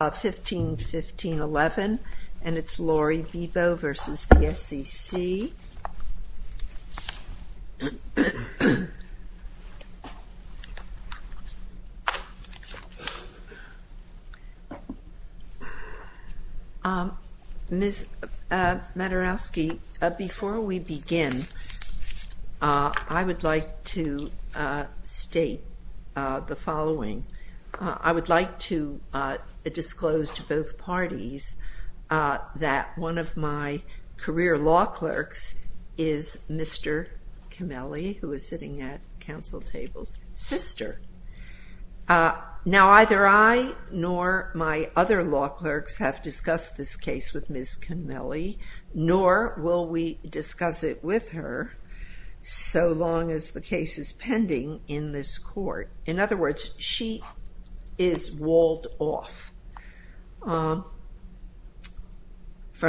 Ms. Maturowski, before we begin, I would like to state the following. I would like to disclose to both parties that one of my career law clerks is Mr. Cameli, who is sitting at council tables, sister. Now either I nor my other law clerks have discussed this case with Ms. Cameli, nor will we discuss it with her so long as the case is pending in this court. In other words, she is walled off from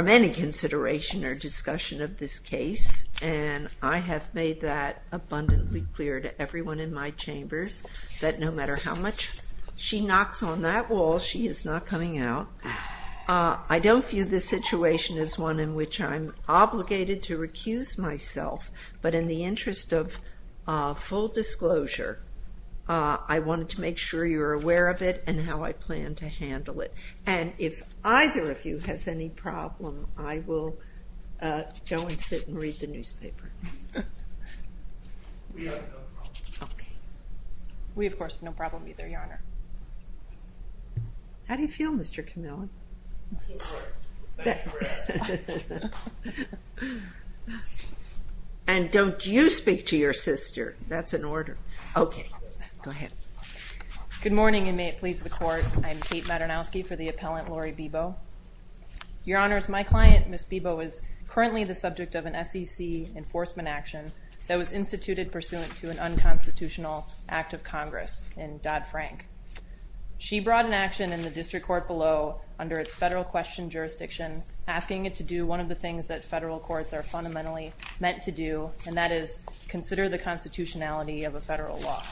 any consideration or discussion of this case, and I have made that abundantly clear to everyone in my chambers that no matter how much she knocks on that wall, she is not coming out. I don't view this situation as one in which I'm obligated to recuse myself, but in the interest of full disclosure, I wanted to make sure you're aware of it and how I plan to handle it. And if either of you has any problem, I will go and sit and read the newspaper. How do you feel, Mr. Cameli? And don't you speak to your sister. That's an order. Okay, go ahead. Good morning, and may it please the court. I'm Kate Maturowski for the appellant, Lori Bebo. Your Honors, my client, Ms. Bebo, is currently the subject of an SEC enforcement action that was instituted pursuant to an unconstitutional act of Congress in Dodd-Frank. She brought an action in the district court below under its federal question jurisdiction, asking it to do one of the things that federal courts are fundamentally meant to do, and that is consider the constitutionality of a federal law.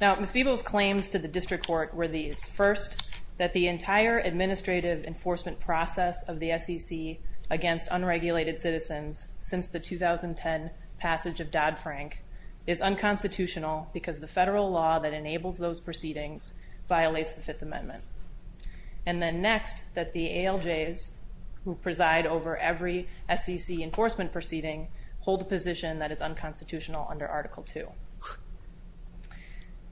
Now, Ms. Bebo's claims to the district court were these. First, that the entire administrative enforcement process of the SEC against unregulated citizens since the 2010 passage of Dodd- Frank is unconstitutional because the federal law that enables those proceedings violates the Fifth Amendment. And then next, that the ALJs who preside over every SEC enforcement proceeding hold a position that is unconstitutional under Article 2.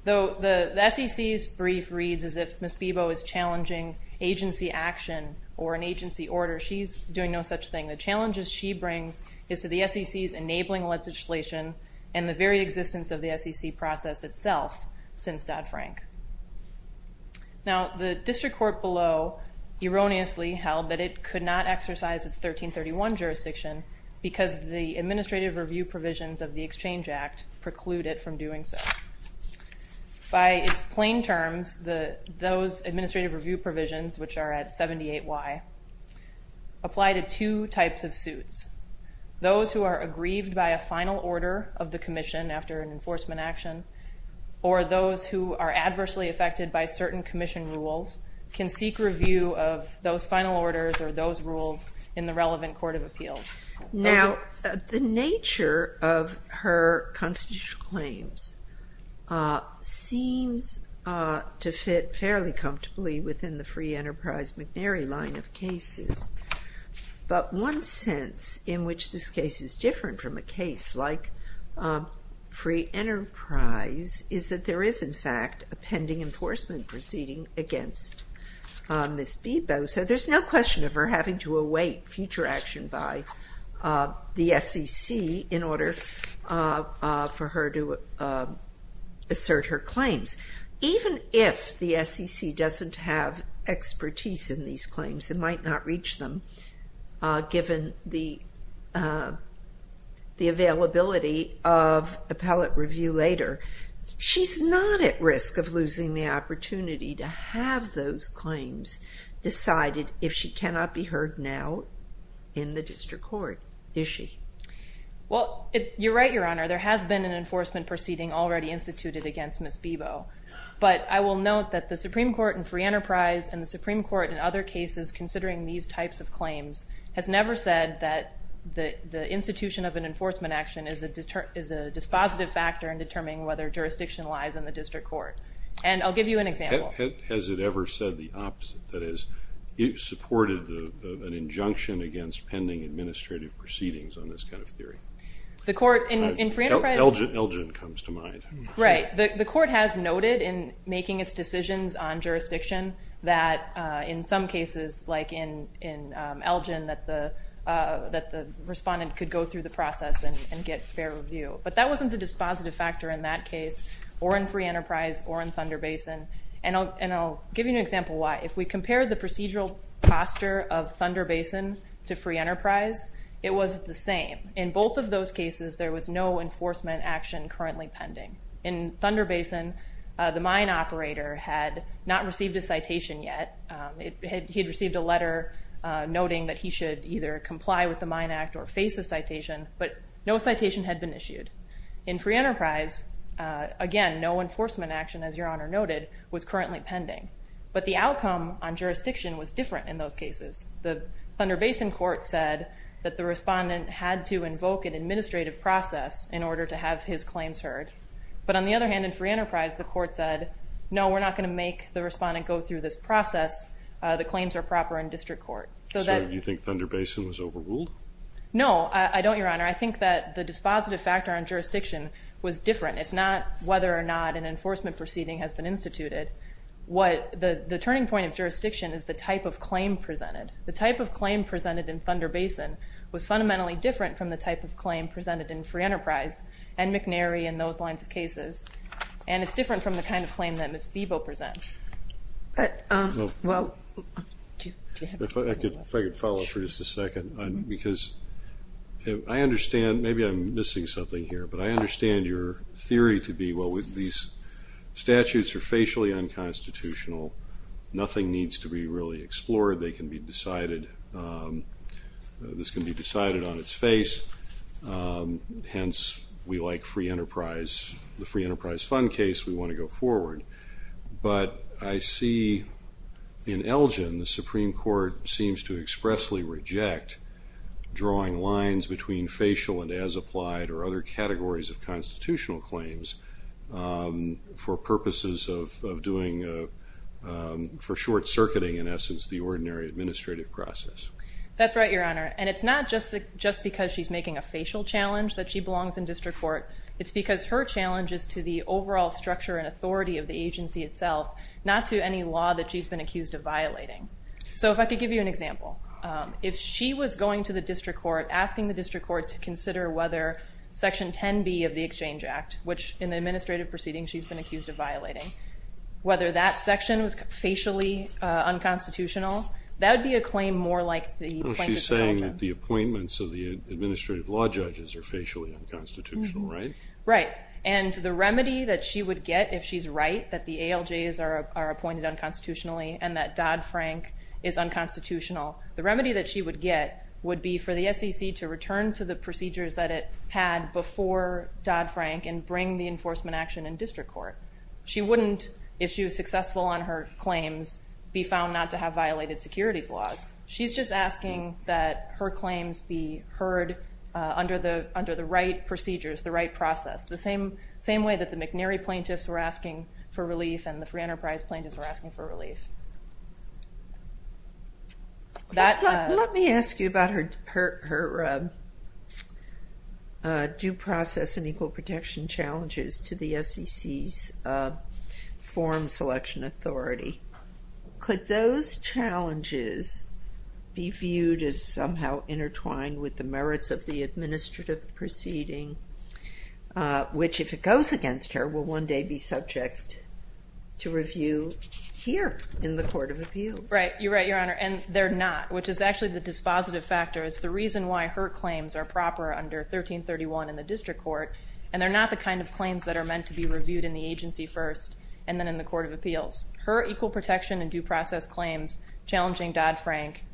Though the SEC's brief reads as if Ms. Bebo is challenging agency action or an agency order, she's doing no such thing. The challenges she brings is to the SEC's enabling legislation and the very existence of the SEC process itself since Dodd-Frank. Now, the district court below erroneously held that it could not exercise its 1331 jurisdiction because the administrative review provisions of the Exchange Act preclude it from doing so. By its plain terms, those administrative review provisions, which are at 78Y, apply to two types of suits. Those who are aggrieved by a final order of the commission after an enforcement action, or those who are adversely affected by certain commission rules, can seek review of those final orders or those rules in the relevant Court of Appeals. Now, the nature of her constitutional claims seems to fit fairly comfortably within the Free Enterprise McNary line of cases. But one sense in which this case is different from a case like Free Enterprise is that there is, in fact, a pending enforcement proceeding against Ms. Bebo, so there's no question of her having to await future action by the SEC in order for her to assert her claims. Even if the SEC doesn't have expertise in these claims, it might not reach them given the availability of appellate claims decided if she cannot be heard now in the district court, is she? Well, you're right, Your Honor. There has been an enforcement proceeding already instituted against Ms. Bebo, but I will note that the Supreme Court in Free Enterprise and the Supreme Court in other cases considering these types of claims has never said that the institution of an enforcement action is a dispositive factor in determining whether jurisdiction lies in the opposite. That is, it supported an injunction against pending administrative proceedings on this kind of theory. Elgin comes to mind. Right, the court has noted in making its decisions on jurisdiction that in some cases, like in Elgin, that the respondent could go through the process and get fair review, but that wasn't the dispositive factor in that case or in Free Enterprise or in Thunder Basin. And I'll give you an example why. If we compare the procedural posture of Thunder Basin to Free Enterprise, it was the same. In both of those cases, there was no enforcement action currently pending. In Thunder Basin, the mine operator had not received a citation yet. He had received a letter noting that he should either comply with the Mine Act or face a citation, but no citation had been issued. In Free Enterprise, again, no enforcement action, as Your Honor noted, was currently pending. But the outcome on jurisdiction was different in those cases. The Thunder Basin court said that the respondent had to invoke an administrative process in order to have his claims heard. But on the other hand, in Free Enterprise, the court said, no, we're not going to make the respondent go through this process. The claims are proper in district court. So you think Thunder Basin was overruled? No, I don't, Your Honor. I think that the dispositive factor on jurisdiction was different. It's not whether or not an The turning point of jurisdiction is the type of claim presented. The type of claim presented in Thunder Basin was fundamentally different from the type of claim presented in Free Enterprise and McNary and those lines of cases, and it's different from the kind of claim that Ms. Bebo presents. If I could follow up for just a second, because I understand, maybe I'm missing something here, but I understand your theory to be, well, these statutes are facially unconstitutional. Nothing needs to be really explored. They can be decided, this can be decided on its face. Hence, we like Free Enterprise. The Free Enterprise Fund case, we want to go forward. But I see in Elgin, the Supreme Court seems to expressly reject drawing lines between facial and as applied or other categories of constitutional claims for purposes of doing, for short-circuiting, in essence, the ordinary administrative process. That's right, Your Honor, and it's not just because she's making a facial challenge that she belongs in district court. It's because her challenge is to the overall structure and authority of the agency itself, not to any law that she's been accused of violating. So if I could give you an example. If she was going to the district court, asking the district court to consider whether Section 10b of the Exchange Act, which in the administrative proceeding she's been accused of violating, whether that section was facially unconstitutional, that would be a claim more like the plaintiff's claim. She's saying that the appointments of the administrative law judges are facially unconstitutional, right? Right, and the remedy that she would get if she's right, that the ALJs are appointed unconstitutionally and that Dodd-Frank is unconstitutional, the remedy that she would get would be for the SEC to return to the procedures that it had before Dodd-Frank and bring the enforcement action in district court. She wouldn't, if she was successful on her claims, be found not to have violated securities laws. She's just asking that her claims be heard under the right procedures, the right process, the same way that the McNary plaintiffs were asking for relief and the Free Enterprise plaintiffs were asking for relief. That... Let me ask you about her due process and equal protection challenges to the SEC's form selection authority. Could those challenges be viewed as somehow intertwined with the merits of the administrative proceeding, which if it goes against her, will one day be subject to review here in the Court of Appeals? Right, you're right, Your Honor, and they're not, which is actually the dispositive factor. It's the reason why her claims are proper under 1331 in the district court and they're not the kind of claims that are meant to be reviewed in the agency first and then in the Court of Appeals. Her equal protection and due process claims challenging Dodd-Frank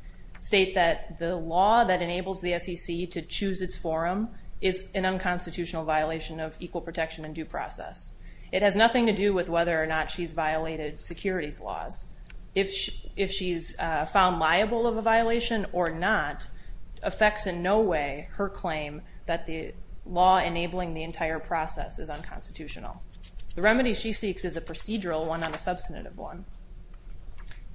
state that the law that enables the SEC to choose its forum is an unconstitutional violation of equal protection and due process. It has nothing to do with whether or not she's violated securities laws. If she's found liable of a violation or not, affects in no way her claim that the law enabling the entire process is unconstitutional. The remedy she seeks is a procedural one, not a substantive one.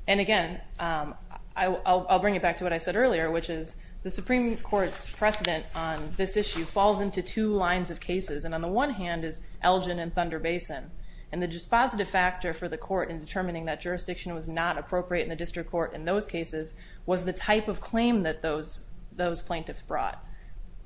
And again, I'll bring it back to what I said earlier, which is the Supreme Court's judgment on this issue falls into two lines of cases and on the one hand is Elgin and Thunder Basin and the dispositive factor for the court in determining that jurisdiction was not appropriate in the district court in those cases was the type of claim that those those plaintiffs brought.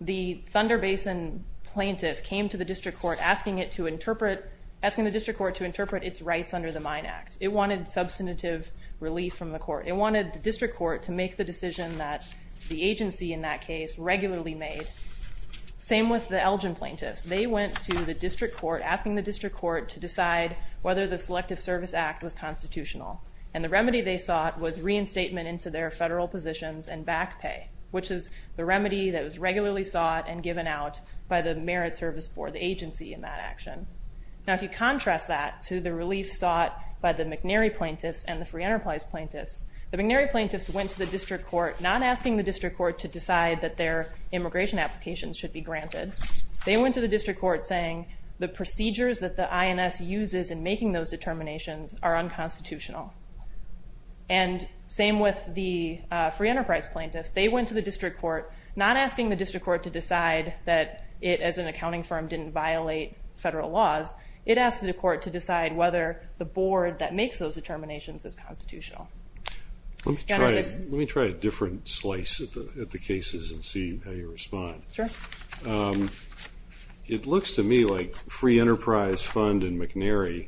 The Thunder Basin plaintiff came to the district court asking it to interpret, asking the district court to interpret its rights under the Mine Act. It wanted substantive relief from the court. It wanted the district court to make the Same with the Elgin plaintiffs. They went to the district court asking the district court to decide whether the Selective Service Act was constitutional and the remedy they sought was reinstatement into their federal positions and back pay, which is the remedy that was regularly sought and given out by the Merit Service Board, the agency in that action. Now if you contrast that to the relief sought by the McNary plaintiffs and the Free Enterprise plaintiffs, the McNary plaintiffs went to the district court not asking the district court to applications should be granted. They went to the district court saying the procedures that the INS uses in making those determinations are unconstitutional. And same with the Free Enterprise plaintiffs. They went to the district court not asking the district court to decide that it as an accounting firm didn't violate federal laws. It asked the court to decide whether the board that makes those determinations is constitutional. Let me try a different slice at the cases and see how you respond. Sure. It looks to me like Free Enterprise Fund and McNary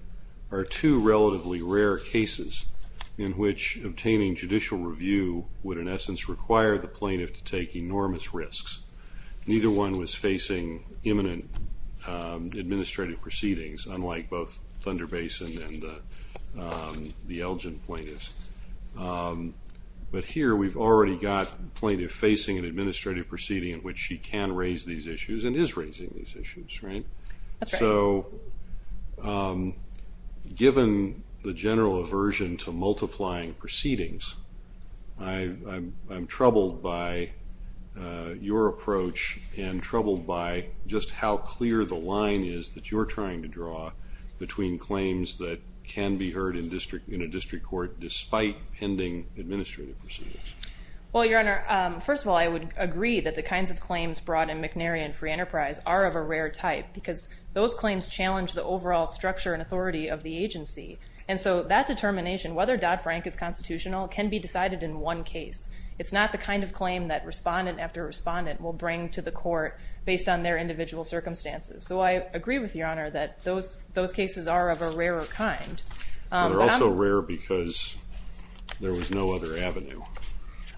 are two relatively rare cases in which obtaining judicial review would in essence require the plaintiff to take enormous risks. Neither one was facing imminent administrative proceedings, unlike both plaintiff facing an administrative proceeding in which she can raise these issues and is raising these issues, right? So given the general aversion to multiplying proceedings, I'm troubled by your approach and troubled by just how clear the line is that you're trying to draw between claims that can be heard in First of all, I would agree that the kinds of claims brought in McNary and Free Enterprise are of a rare type because those claims challenge the overall structure and authority of the agency. And so that determination, whether Dodd-Frank is constitutional, can be decided in one case. It's not the kind of claim that respondent after respondent will bring to the court based on their individual circumstances. So I agree with your honor that those those cases are of a rarer kind. They're also rare because there was no other avenue.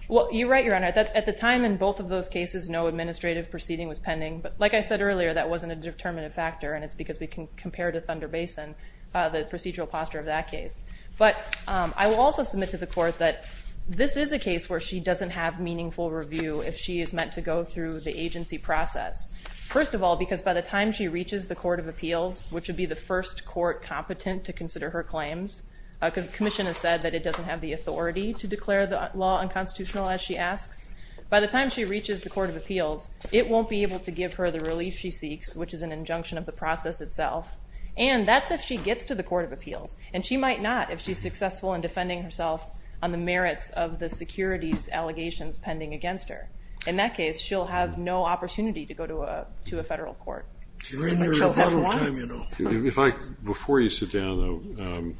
Well, you're right, your honor, that at the time in both of those cases no administrative proceeding was pending. But like I said earlier, that wasn't a determinative factor and it's because we can compare to Thunder Basin, the procedural posture of that case. But I will also submit to the court that this is a case where she doesn't have meaningful review if she is meant to go through the agency process. First of all, because by the time she reaches the Court of Appeals, which would be the first court competent to consider her claims, because the Commission has said that it doesn't have the authority to declare the law unconstitutional as she asks. By the time she reaches the Court of Appeals, it won't be able to give her the relief she seeks, which is an injunction of the process itself. And that's if she gets to the Court of Appeals. And she might not if she's successful in defending herself on the merits of the securities allegations pending against her. In that case, she'll have no opportunity to go to a to a Before you sit down,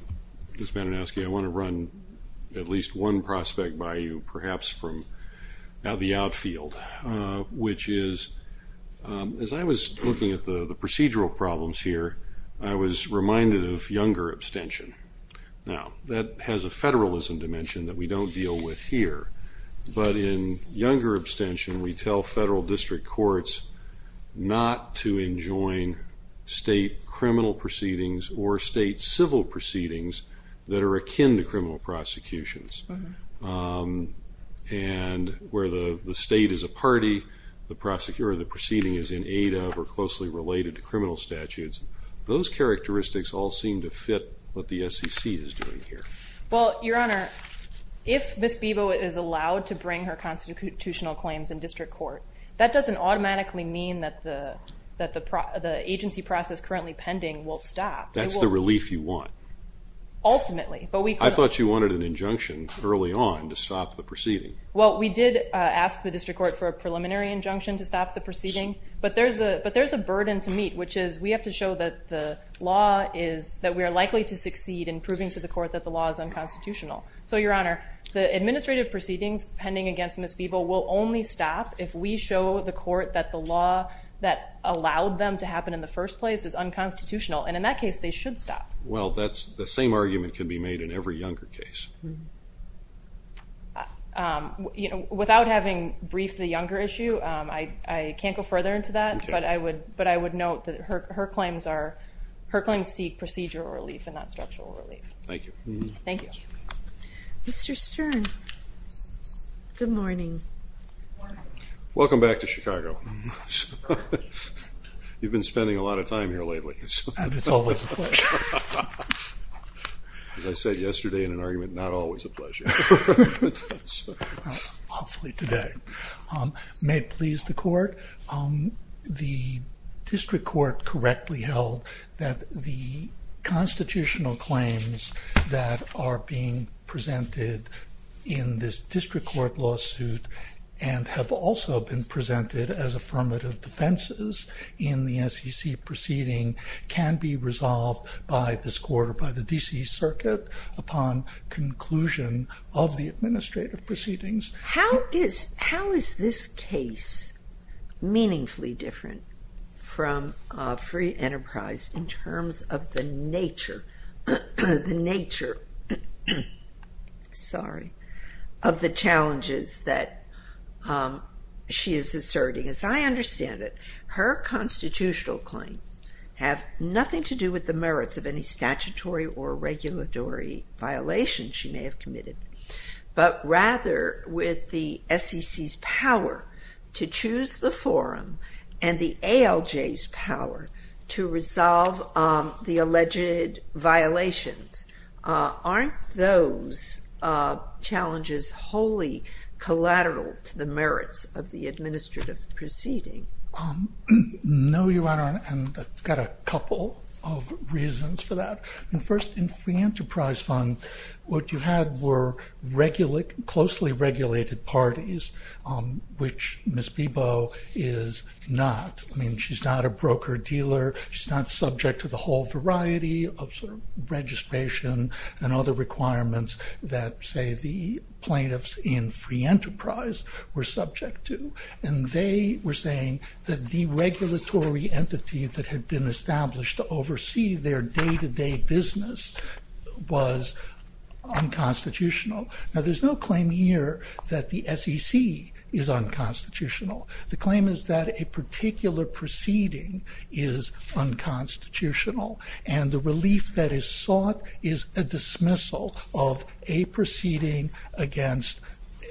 Ms. Bananowsky, I want to run at least one prospect by you, perhaps from the outfield, which is, as I was looking at the procedural problems here, I was reminded of younger abstention. Now, that has a federalism dimension that we don't deal with here, but in younger district courts not to enjoin state criminal proceedings or state civil proceedings that are akin to criminal prosecutions. And where the state is a party, the prosecutor, the proceeding is in aid of or closely related to criminal statutes, those characteristics all seem to fit what the SEC is doing here. Well, Your Honor, if Ms. Bebo is allowed to bring her constitutional claims in that doesn't automatically mean that the agency process currently pending will stop. That's the relief you want. Ultimately. I thought you wanted an injunction early on to stop the proceeding. Well, we did ask the district court for a preliminary injunction to stop the proceeding, but there's a burden to meet, which is we have to show that the law is that we are likely to succeed in proving to the court that the law is unconstitutional. So, Your Honor, the administrative proceedings pending against Ms. Bebo will only stop if we show the court that the law that allowed them to happen in the first place is unconstitutional, and in that case they should stop. Well, that's the same argument can be made in every younger case. You know, without having briefed the younger issue, I can't go further into that, but I would note that her claims seek procedural relief and not structural relief. Thank you. Thank you. Mr. Stern, good morning. Welcome back to Chicago. You've been spending a lot of time here lately. As I said yesterday in an argument, not always a pleasure. May it please the court, the district court correctly held that the proceedings being presented in this district court lawsuit and have also been presented as affirmative defenses in the SEC proceeding can be resolved by this court or by the D.C. Circuit upon conclusion of the administrative proceedings. How is this case meaningfully different from free enterprise in terms of the nature, the nature, sorry, of the challenges that she is asserting? As I understand it, her constitutional claims have nothing to do with the merits of any statutory or regulatory violation she may have committed, but rather with the SEC's power to choose the forum and the ALJ's power to resolve the alleged violations. Aren't those challenges wholly collateral to the merits of the administrative proceeding? No, Your Honor, and I've got a couple of reasons for that. First, in free enterprise fund what you had were closely regulated parties, which Ms. Bebo is not. I dealer, she's not subject to the whole variety of registration and other requirements that say the plaintiffs in free enterprise were subject to, and they were saying that the regulatory entity that had been established to oversee their day-to-day business was unconstitutional. Now there's no claim here that the SEC is unconstitutional. The claim is that a particular proceeding is unconstitutional, and the relief that is sought is a dismissal of a proceeding against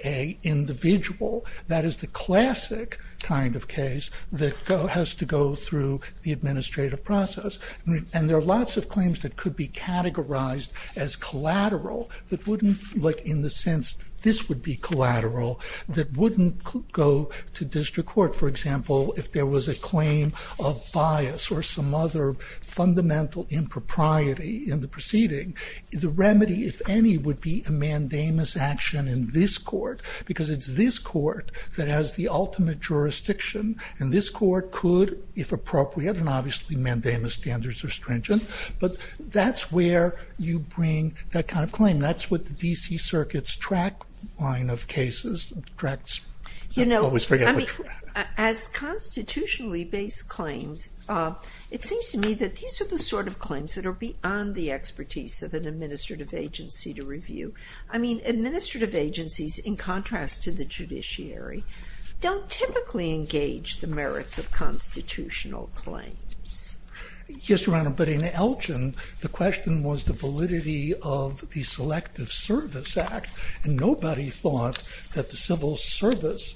a individual. That is the classic kind of case that has to go through the administrative process, and there are lots of claims that could be categorized as collateral that wouldn't, like in the sense this would be collateral, that wouldn't go to district court. For example, if there was a claim of bias or some other fundamental impropriety in the proceeding, the remedy, if any, would be a mandamus action in this court, because it's this court that has the ultimate jurisdiction, and this court could, if appropriate, and obviously mandamus standards are stringent, but that's where you bring that kind of claim. That's what the DC Circuit's track line of cases tracks. You know, as constitutionally based claims, it seems to me that these are the sort of claims that are beyond the expertise of an administrative agency to review. I mean, administrative agencies, in contrast to the judiciary, don't typically engage the merits of constitutional claims. Yes, Your Honor, but in Elgin, the question was the validity of the Selective Service Act, and the Civil Service,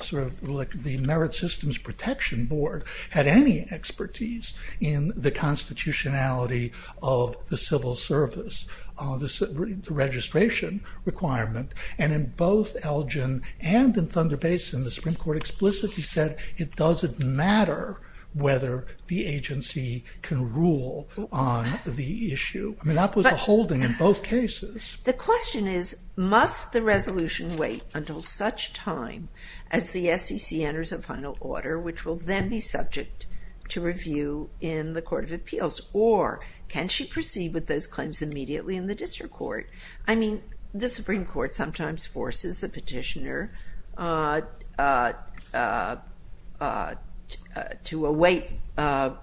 sort of like the Merit Systems Protection Board, had any expertise in the constitutionality of the Civil Service, the registration requirement, and in both Elgin and in Thunder Basin, the Supreme Court explicitly said it doesn't matter whether the agency can rule on the issue. I mean, that was a holding in both cases. The question is, must the resolution wait until such time as the SEC enters a final order, which will then be subject to review in the Court of Appeals, or can she proceed with those claims immediately in the District Court? I mean, the Supreme Court sometimes forces a petitioner to await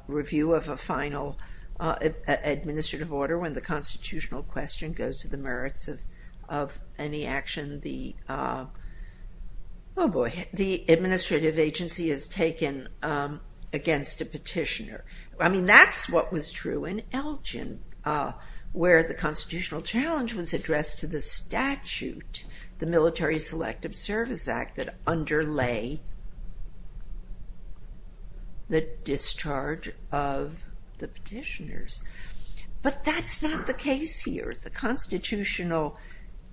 review of a final administrative order when the constitutional question goes to the merits of any action the, oh boy, the administrative agency has taken against a petitioner. I mean, that's what was true in Elgin, where the constitutional challenge was addressed to the statute, the Military Selective Service Act, that discharge of the petitioners, but that's not the case here. The constitutional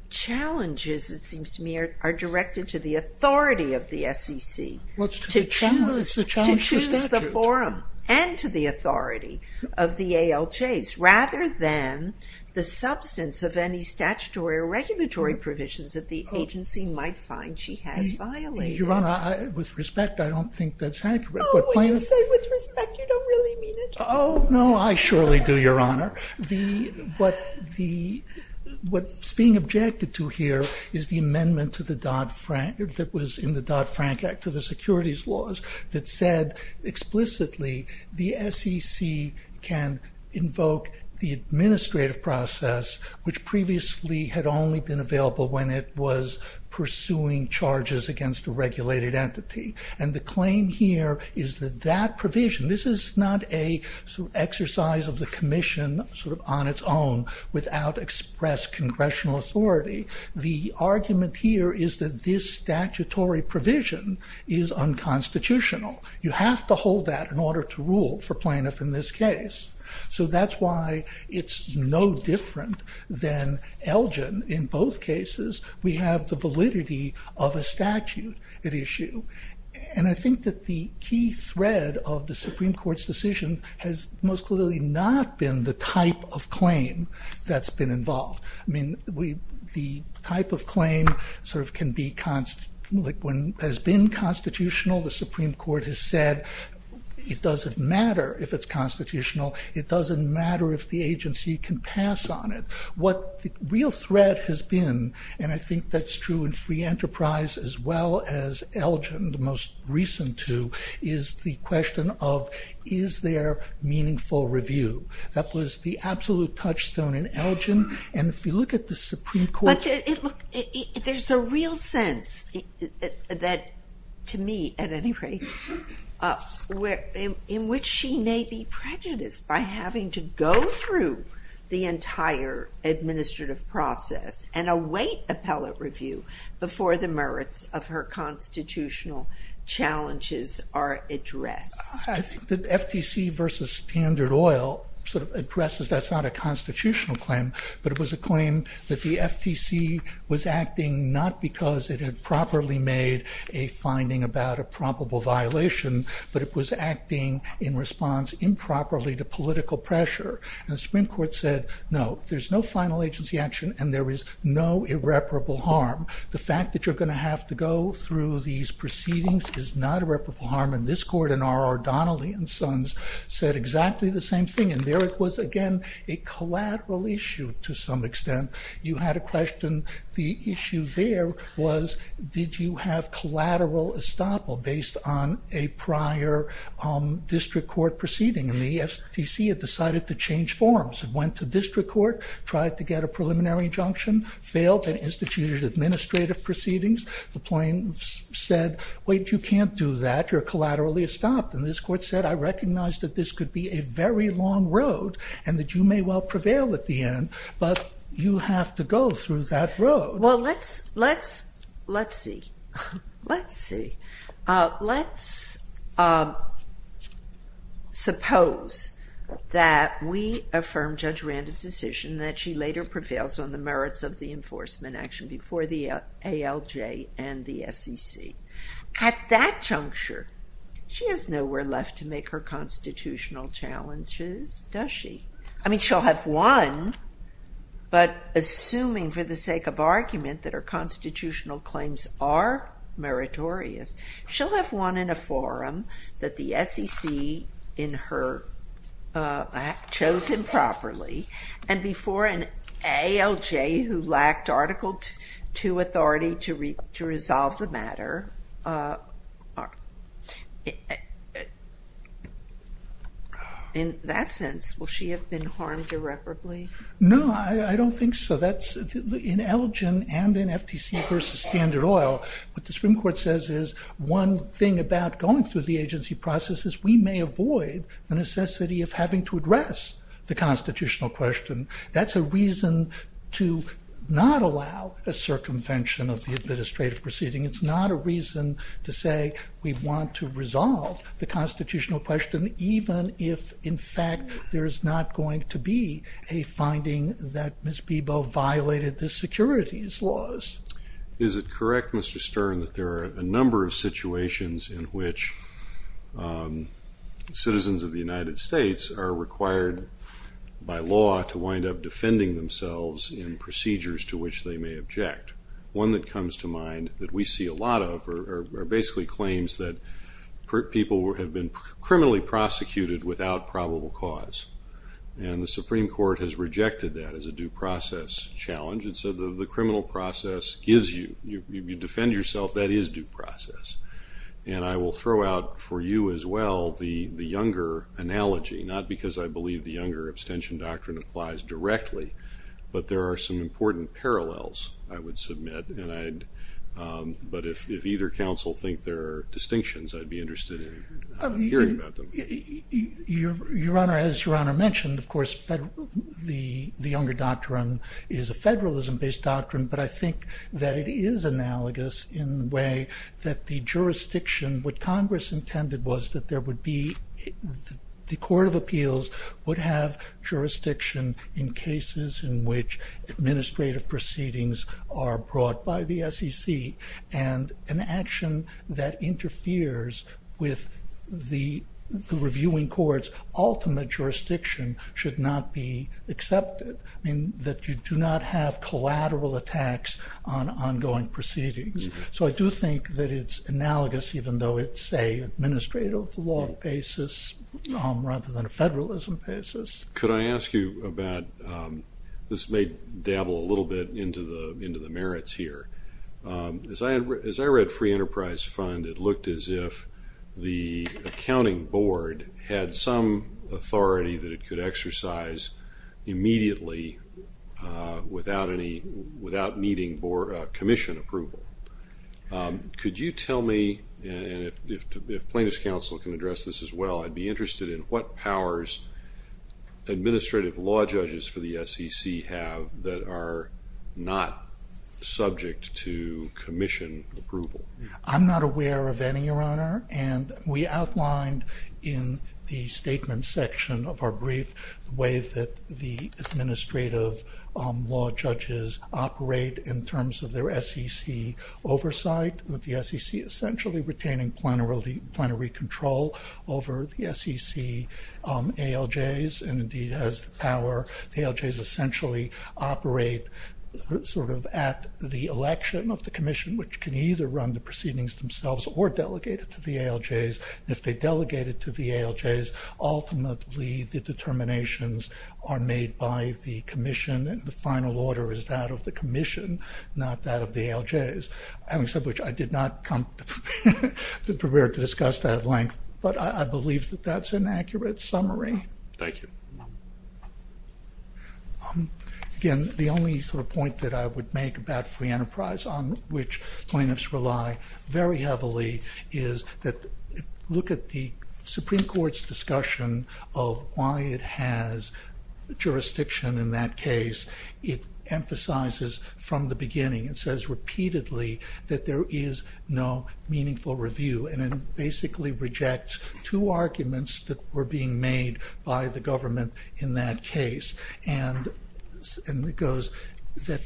challenges, it seems to me, are directed to the authority of the SEC to choose the forum and to the authority of the ALJs, rather than the substance of any statutory or regulatory provisions that the agency might find she has violated. Your Honor, with respect, I don't think that's accurate. Oh, when you say with respect, you don't really mean it. Oh, no, I surely do, Your Honor. What's being objected to here is the amendment to the Dodd-Frank, that was in the Dodd-Frank Act to the securities laws, that said explicitly the SEC can invoke the administrative process, which previously had only been available when it was pursuing charges against a regulated entity, and the claim here is that that provision, this is not a exercise of the Commission, sort of on its own, without express congressional authority. The argument here is that this statutory provision is unconstitutional. You have to hold that in order to rule for plaintiff in this case, so that's why it's no different than Elgin. In both cases, we have the issue, and I think that the key thread of the Supreme Court's decision has most clearly not been the type of claim that's been involved. I mean, the type of claim sort of can be, like when has been constitutional, the Supreme Court has said it doesn't matter if it's constitutional, it doesn't matter if the agency can pass on it. What the real thread has been, and I think that's true in Free Enterprise as well as Elgin, the most recent two, is the question of is there meaningful review. That was the absolute touchstone in Elgin, and if you look at the Supreme Court... But there's a real sense, that to me at any rate, where in which she may be prejudiced by having to go through the entire administrative process and await appellate review before the merits of her constitutional challenges are addressed. I think the FTC versus Standard Oil sort of addresses that's not a constitutional claim, but it was a claim that the FTC was acting not because it had properly made a finding about a probable violation, but it was acting in response improperly to political pressure, and the Supreme Court said no, there's no final agency action, and there is no irreparable harm. The fact that you're going to have to go through these proceedings is not irreparable harm, and this court and our O'Donnelly and Sons said exactly the same thing, and there it was again a collateral issue to some extent. You had a question, the issue there was did you have collateral estoppel based on a went to district court, tried to get a preliminary injunction, failed an instituted administrative proceedings, the plaintiffs said wait you can't do that, you're collaterally estopped, and this court said I recognize that this could be a very long road, and that you may well prevail at the end, but you have to go through that road. Well let's, let's, let's see, let's see, let's suppose that we affirm Judge Randall's decision that she later prevails on the merits of the enforcement action before the ALJ and the SEC. At that juncture, she has nowhere left to make her constitutional challenges, does she? I mean she'll have one, but assuming for the sake of argument that her constitutional claims are meritorious, she'll have one in a forum that the SEC in her, chose him properly, and before an ALJ who lacked Article 2 authority to resolve the matter, in that sense will she have been harmed irreparably? No, I don't think so, that's in ALGEN and in FTC versus Standard Oil, what the Supreme Court says is one thing about going through the agency process is we may avoid the necessity of having to address the constitutional question. That's a reason to not allow a circumvention of the administrative proceeding, it's not a reason to say we want to resolve the constitutional question, even if in fact there's not going to be a finding that Ms. Beebo violated the securities laws. Is it correct, Mr. Stern, that there are a number of situations in which citizens of the United States are required by law to wind up defending themselves in procedures to which they may object? One that comes to mind that we see a lot of are basically claims that people have been criminally prosecuted without probable cause, and the Supreme Court has rejected that as a due process challenge, and so the criminal process gives you, you defend yourself, that is due process, and I will throw out for you as well the younger analogy, not because I believe the younger abstention doctrine applies directly, but there are some important parallels I would submit, and I'd, but if either counsel think there are distinctions, I'd be interested in hearing about them. Your Honor, as your Honor mentioned, of course the younger doctrine is a federalism based doctrine, but I think that it is analogous in the way that the jurisdiction, what Congress intended was that there would be, the Court of Appeals would have jurisdiction in cases in which administrative proceedings are brought by the SEC, and an action that interferes with the reviewing court's ultimate jurisdiction should not be accepted. I mean that you do not have collateral attacks on ongoing proceedings, so I do think that it's analogous even though it's a administrative law basis rather than a federalism basis. Could I ask you about, this may dabble a little bit into the merits here, as I read free enterprise fund it looked as if the accounting board had some authority that it could exercise immediately without needing commission approval. Could you tell me, and if plaintiff's counsel can address this as well, I'd be interested in what powers administrative law judges for the SEC have that are not subject to commission approval. I'm not aware of any, your Honor, and we outlined in the statement section of our brief the way that the administrative law judges operate in terms of their SEC oversight with the SEC essentially retaining plenary control over the SEC ALJs and indeed has the power, the ALJs essentially operate sort of at the election of the Commission which can either run the proceedings themselves or delegate it to the ALJs. If they delegate it to the ALJs, ultimately the determinations are made by the Commission and the final order is that of the Commission, not that of the ALJs. Having said which, I did not come prepared to discuss that at length, but I believe that that's an accurate summary. Thank you. Again, the only sort of point that I would make about free enterprise on which plaintiffs rely very heavily is that look at the Supreme Court's discussion of why it has jurisdiction in that case. It emphasizes from the basically rejects two arguments that were being made by the government in that case and it goes that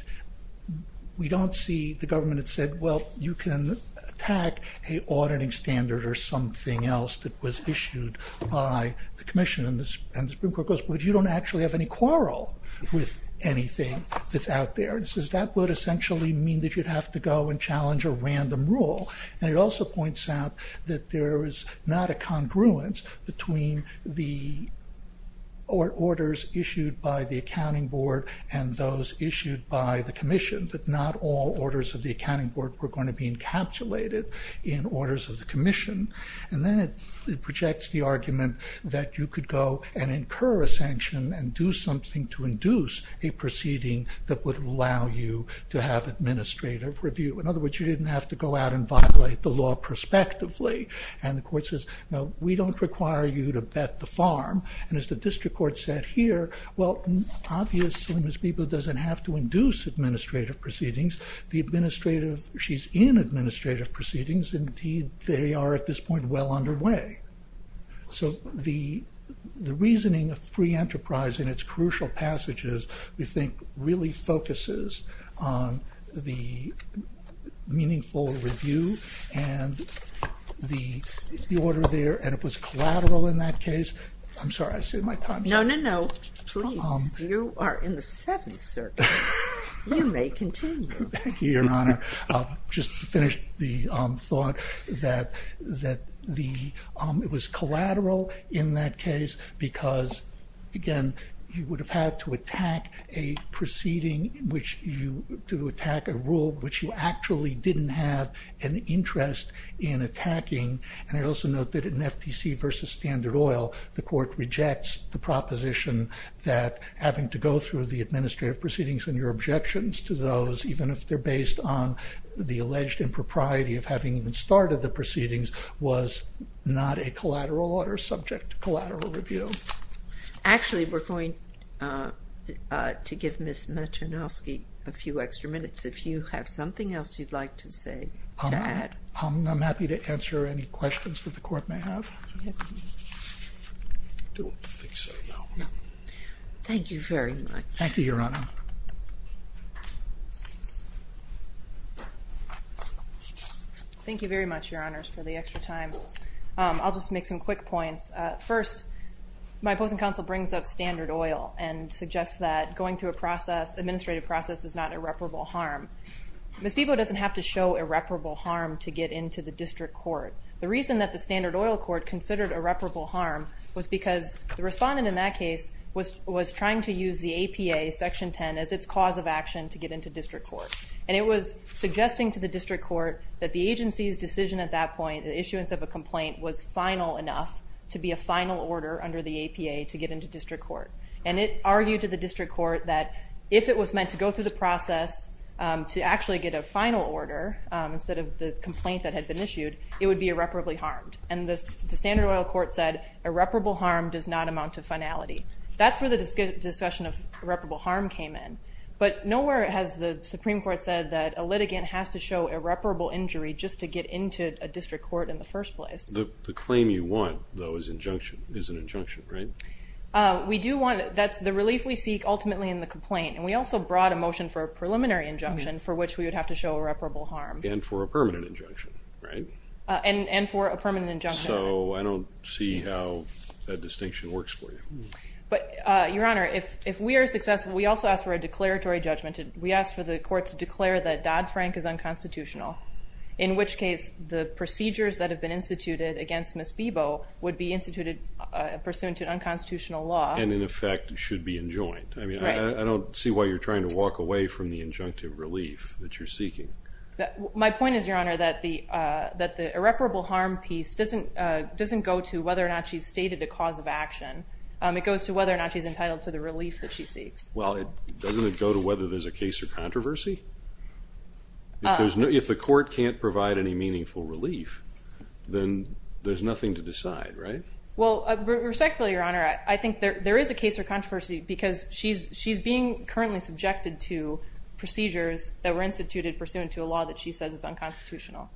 we don't see the government had said well you can attack a auditing standard or something else that was issued by the Commission and the Supreme Court goes, but you don't actually have any quarrel with anything that's out there. It says that would essentially mean that you'd have to go and challenge a random rule and it also points out that there is not a congruence between the orders issued by the Accounting Board and those issued by the Commission, that not all orders of the Accounting Board were going to be encapsulated in orders of the Commission and then it projects the argument that you could go and incur a sanction and do something to induce a review. In other words, you didn't have to go out and violate the law prospectively and the court says no we don't require you to bet the farm and as the district court said here, well obviously Ms. Bebo doesn't have to induce administrative proceedings. The administrative, she's in administrative proceedings, indeed they are at this point well underway. So the reasoning of the enterprise in its crucial passages we think really focuses on the meaningful review and the order there and it was collateral in that case, I'm sorry I said my time's up. No, no, no. Please, you are in the seventh circuit. You may continue. Thank you, Your Honor. Just to finish the thought that it was collateral in that case because again you would have had to attack a proceeding which you, to attack a rule which you actually didn't have an interest in attacking and I also note that in FTC versus Standard Oil the court rejects the proposition that having to go through the administrative proceedings and your objections to those even if they're based on the alleged impropriety of having even started the proceedings was not a collateral order subject to collateral review. Actually we're going to give Ms. Maternowski a few extra minutes if you have something else you'd like to say to add. I'm happy to answer any questions that the Thank you very much, Your Honors, for the extra time. I'll just make some quick points. First, my opposing counsel brings up Standard Oil and suggests that going through a process, administrative process, is not irreparable harm. Ms. Bebo doesn't have to show irreparable harm to get into the district court. The reason that the Standard Oil court considered irreparable harm was because the respondent in that case was trying to use the APA section 10 as its cause of action to get into district court. And it was suggesting to the district court that the agency's decision at that point, the issuance of a complaint, was final enough to be a final order under the APA to get into district court. And it argued to the district court that if it was meant to go through the process to actually get a final order instead of the complaint that had been issued, it would be irreparably harmed. And the Standard Oil court said irreparable harm does not amount to finality. That's where the discussion of But nowhere has the Supreme Court said that a litigant has to show irreparable injury just to get into a district court in the first place. The claim you want, though, is injunction, is an injunction, right? We do want, that's the relief we seek ultimately in the complaint. And we also brought a motion for a preliminary injunction for which we would have to show irreparable harm. And for a permanent injunction, right? And for a permanent injunction. So I don't see how that distinction works for you. But, Your Honor, if we are successful, we also ask for a declaratory judgment. We ask for the court to declare that Dodd-Frank is unconstitutional. In which case, the procedures that have been instituted against Ms. Bebo would be instituted pursuant to unconstitutional law. And in effect should be enjoined. I mean, I don't see why you're trying to walk away from the injunctive relief that you're seeking. My point is, Your Honor, that the irreparable harm piece doesn't go to whether or not she's stated a cause of action. It goes to whether or not she's entitled to the relief. Doesn't it go to whether there's a case or controversy? If the court can't provide any meaningful relief, then there's nothing to decide, right? Well, respectfully, Your Honor, I think there is a case or controversy because she's being currently subjected to procedures that were instituted pursuant to a law that she says is unconstitutional.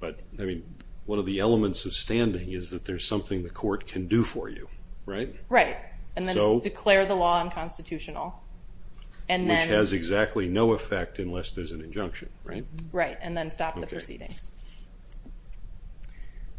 But, I mean, one of the elements of standing is that there's something the court can do for you, right? Right. And then declare the law unconstitutional. Which has exactly no effect unless there's an injunction, right? Right. And then stop the proceedings.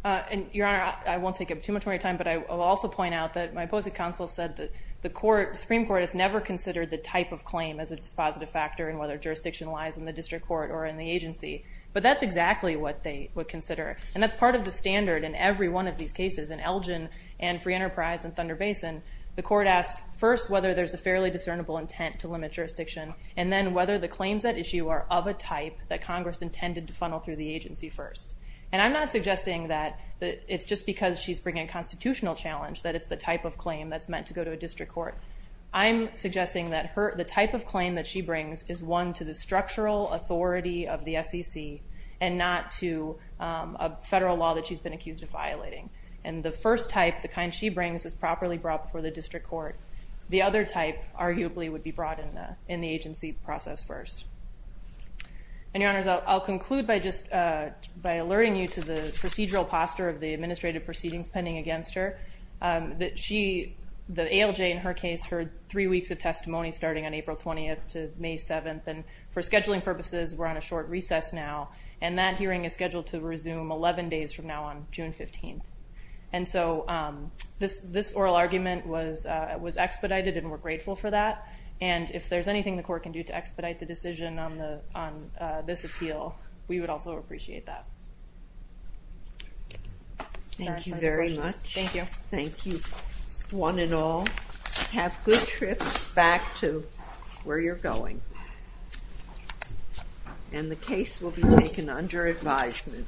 And Your Honor, I won't take up too much of your time, but I will also point out that my opposing counsel said that the Supreme Court has never considered the type of claim as a dispositive factor in whether jurisdiction lies in the district court or in the agency. But that's exactly what they would consider. And that's part of the standard in every one of these cases. In Elgin and Free Enterprise and Thunder Basin, the court asked first whether there's a fairly discernible intent to limit jurisdiction, and then whether the claims at issue are of a type that Congress intended to funnel through the agency first. And I'm not suggesting that it's just because she's bringing a constitutional challenge that it's the type of claim that's meant to go to a district court. I'm suggesting that the type of claim that she brings is one to the structural authority of the SEC and not to a federal law that she's been accused of violating. And the first type, the kind she brings, is properly brought before the district court. The other type, arguably, would be brought in the agency process first. And Your Honors, I'll conclude by just... By alerting you to the procedural posture of the administrative proceedings pending against her, that she... The ALJ, in her case, heard three weeks of testimony starting on April 20th to May 7th. And for scheduling purposes, we're on a short recess now, and that hearing is scheduled to resume 11 days from now on June 15th. And so this oral argument was expedited, and we're grateful for that. And if there's anything the court can do to expedite the decision on this appeal, we would also appreciate that. Thank you very much. Thank you. Thank you, one and all. Have good trips back to where you're going. Thank you. And the case will be taken under advisement.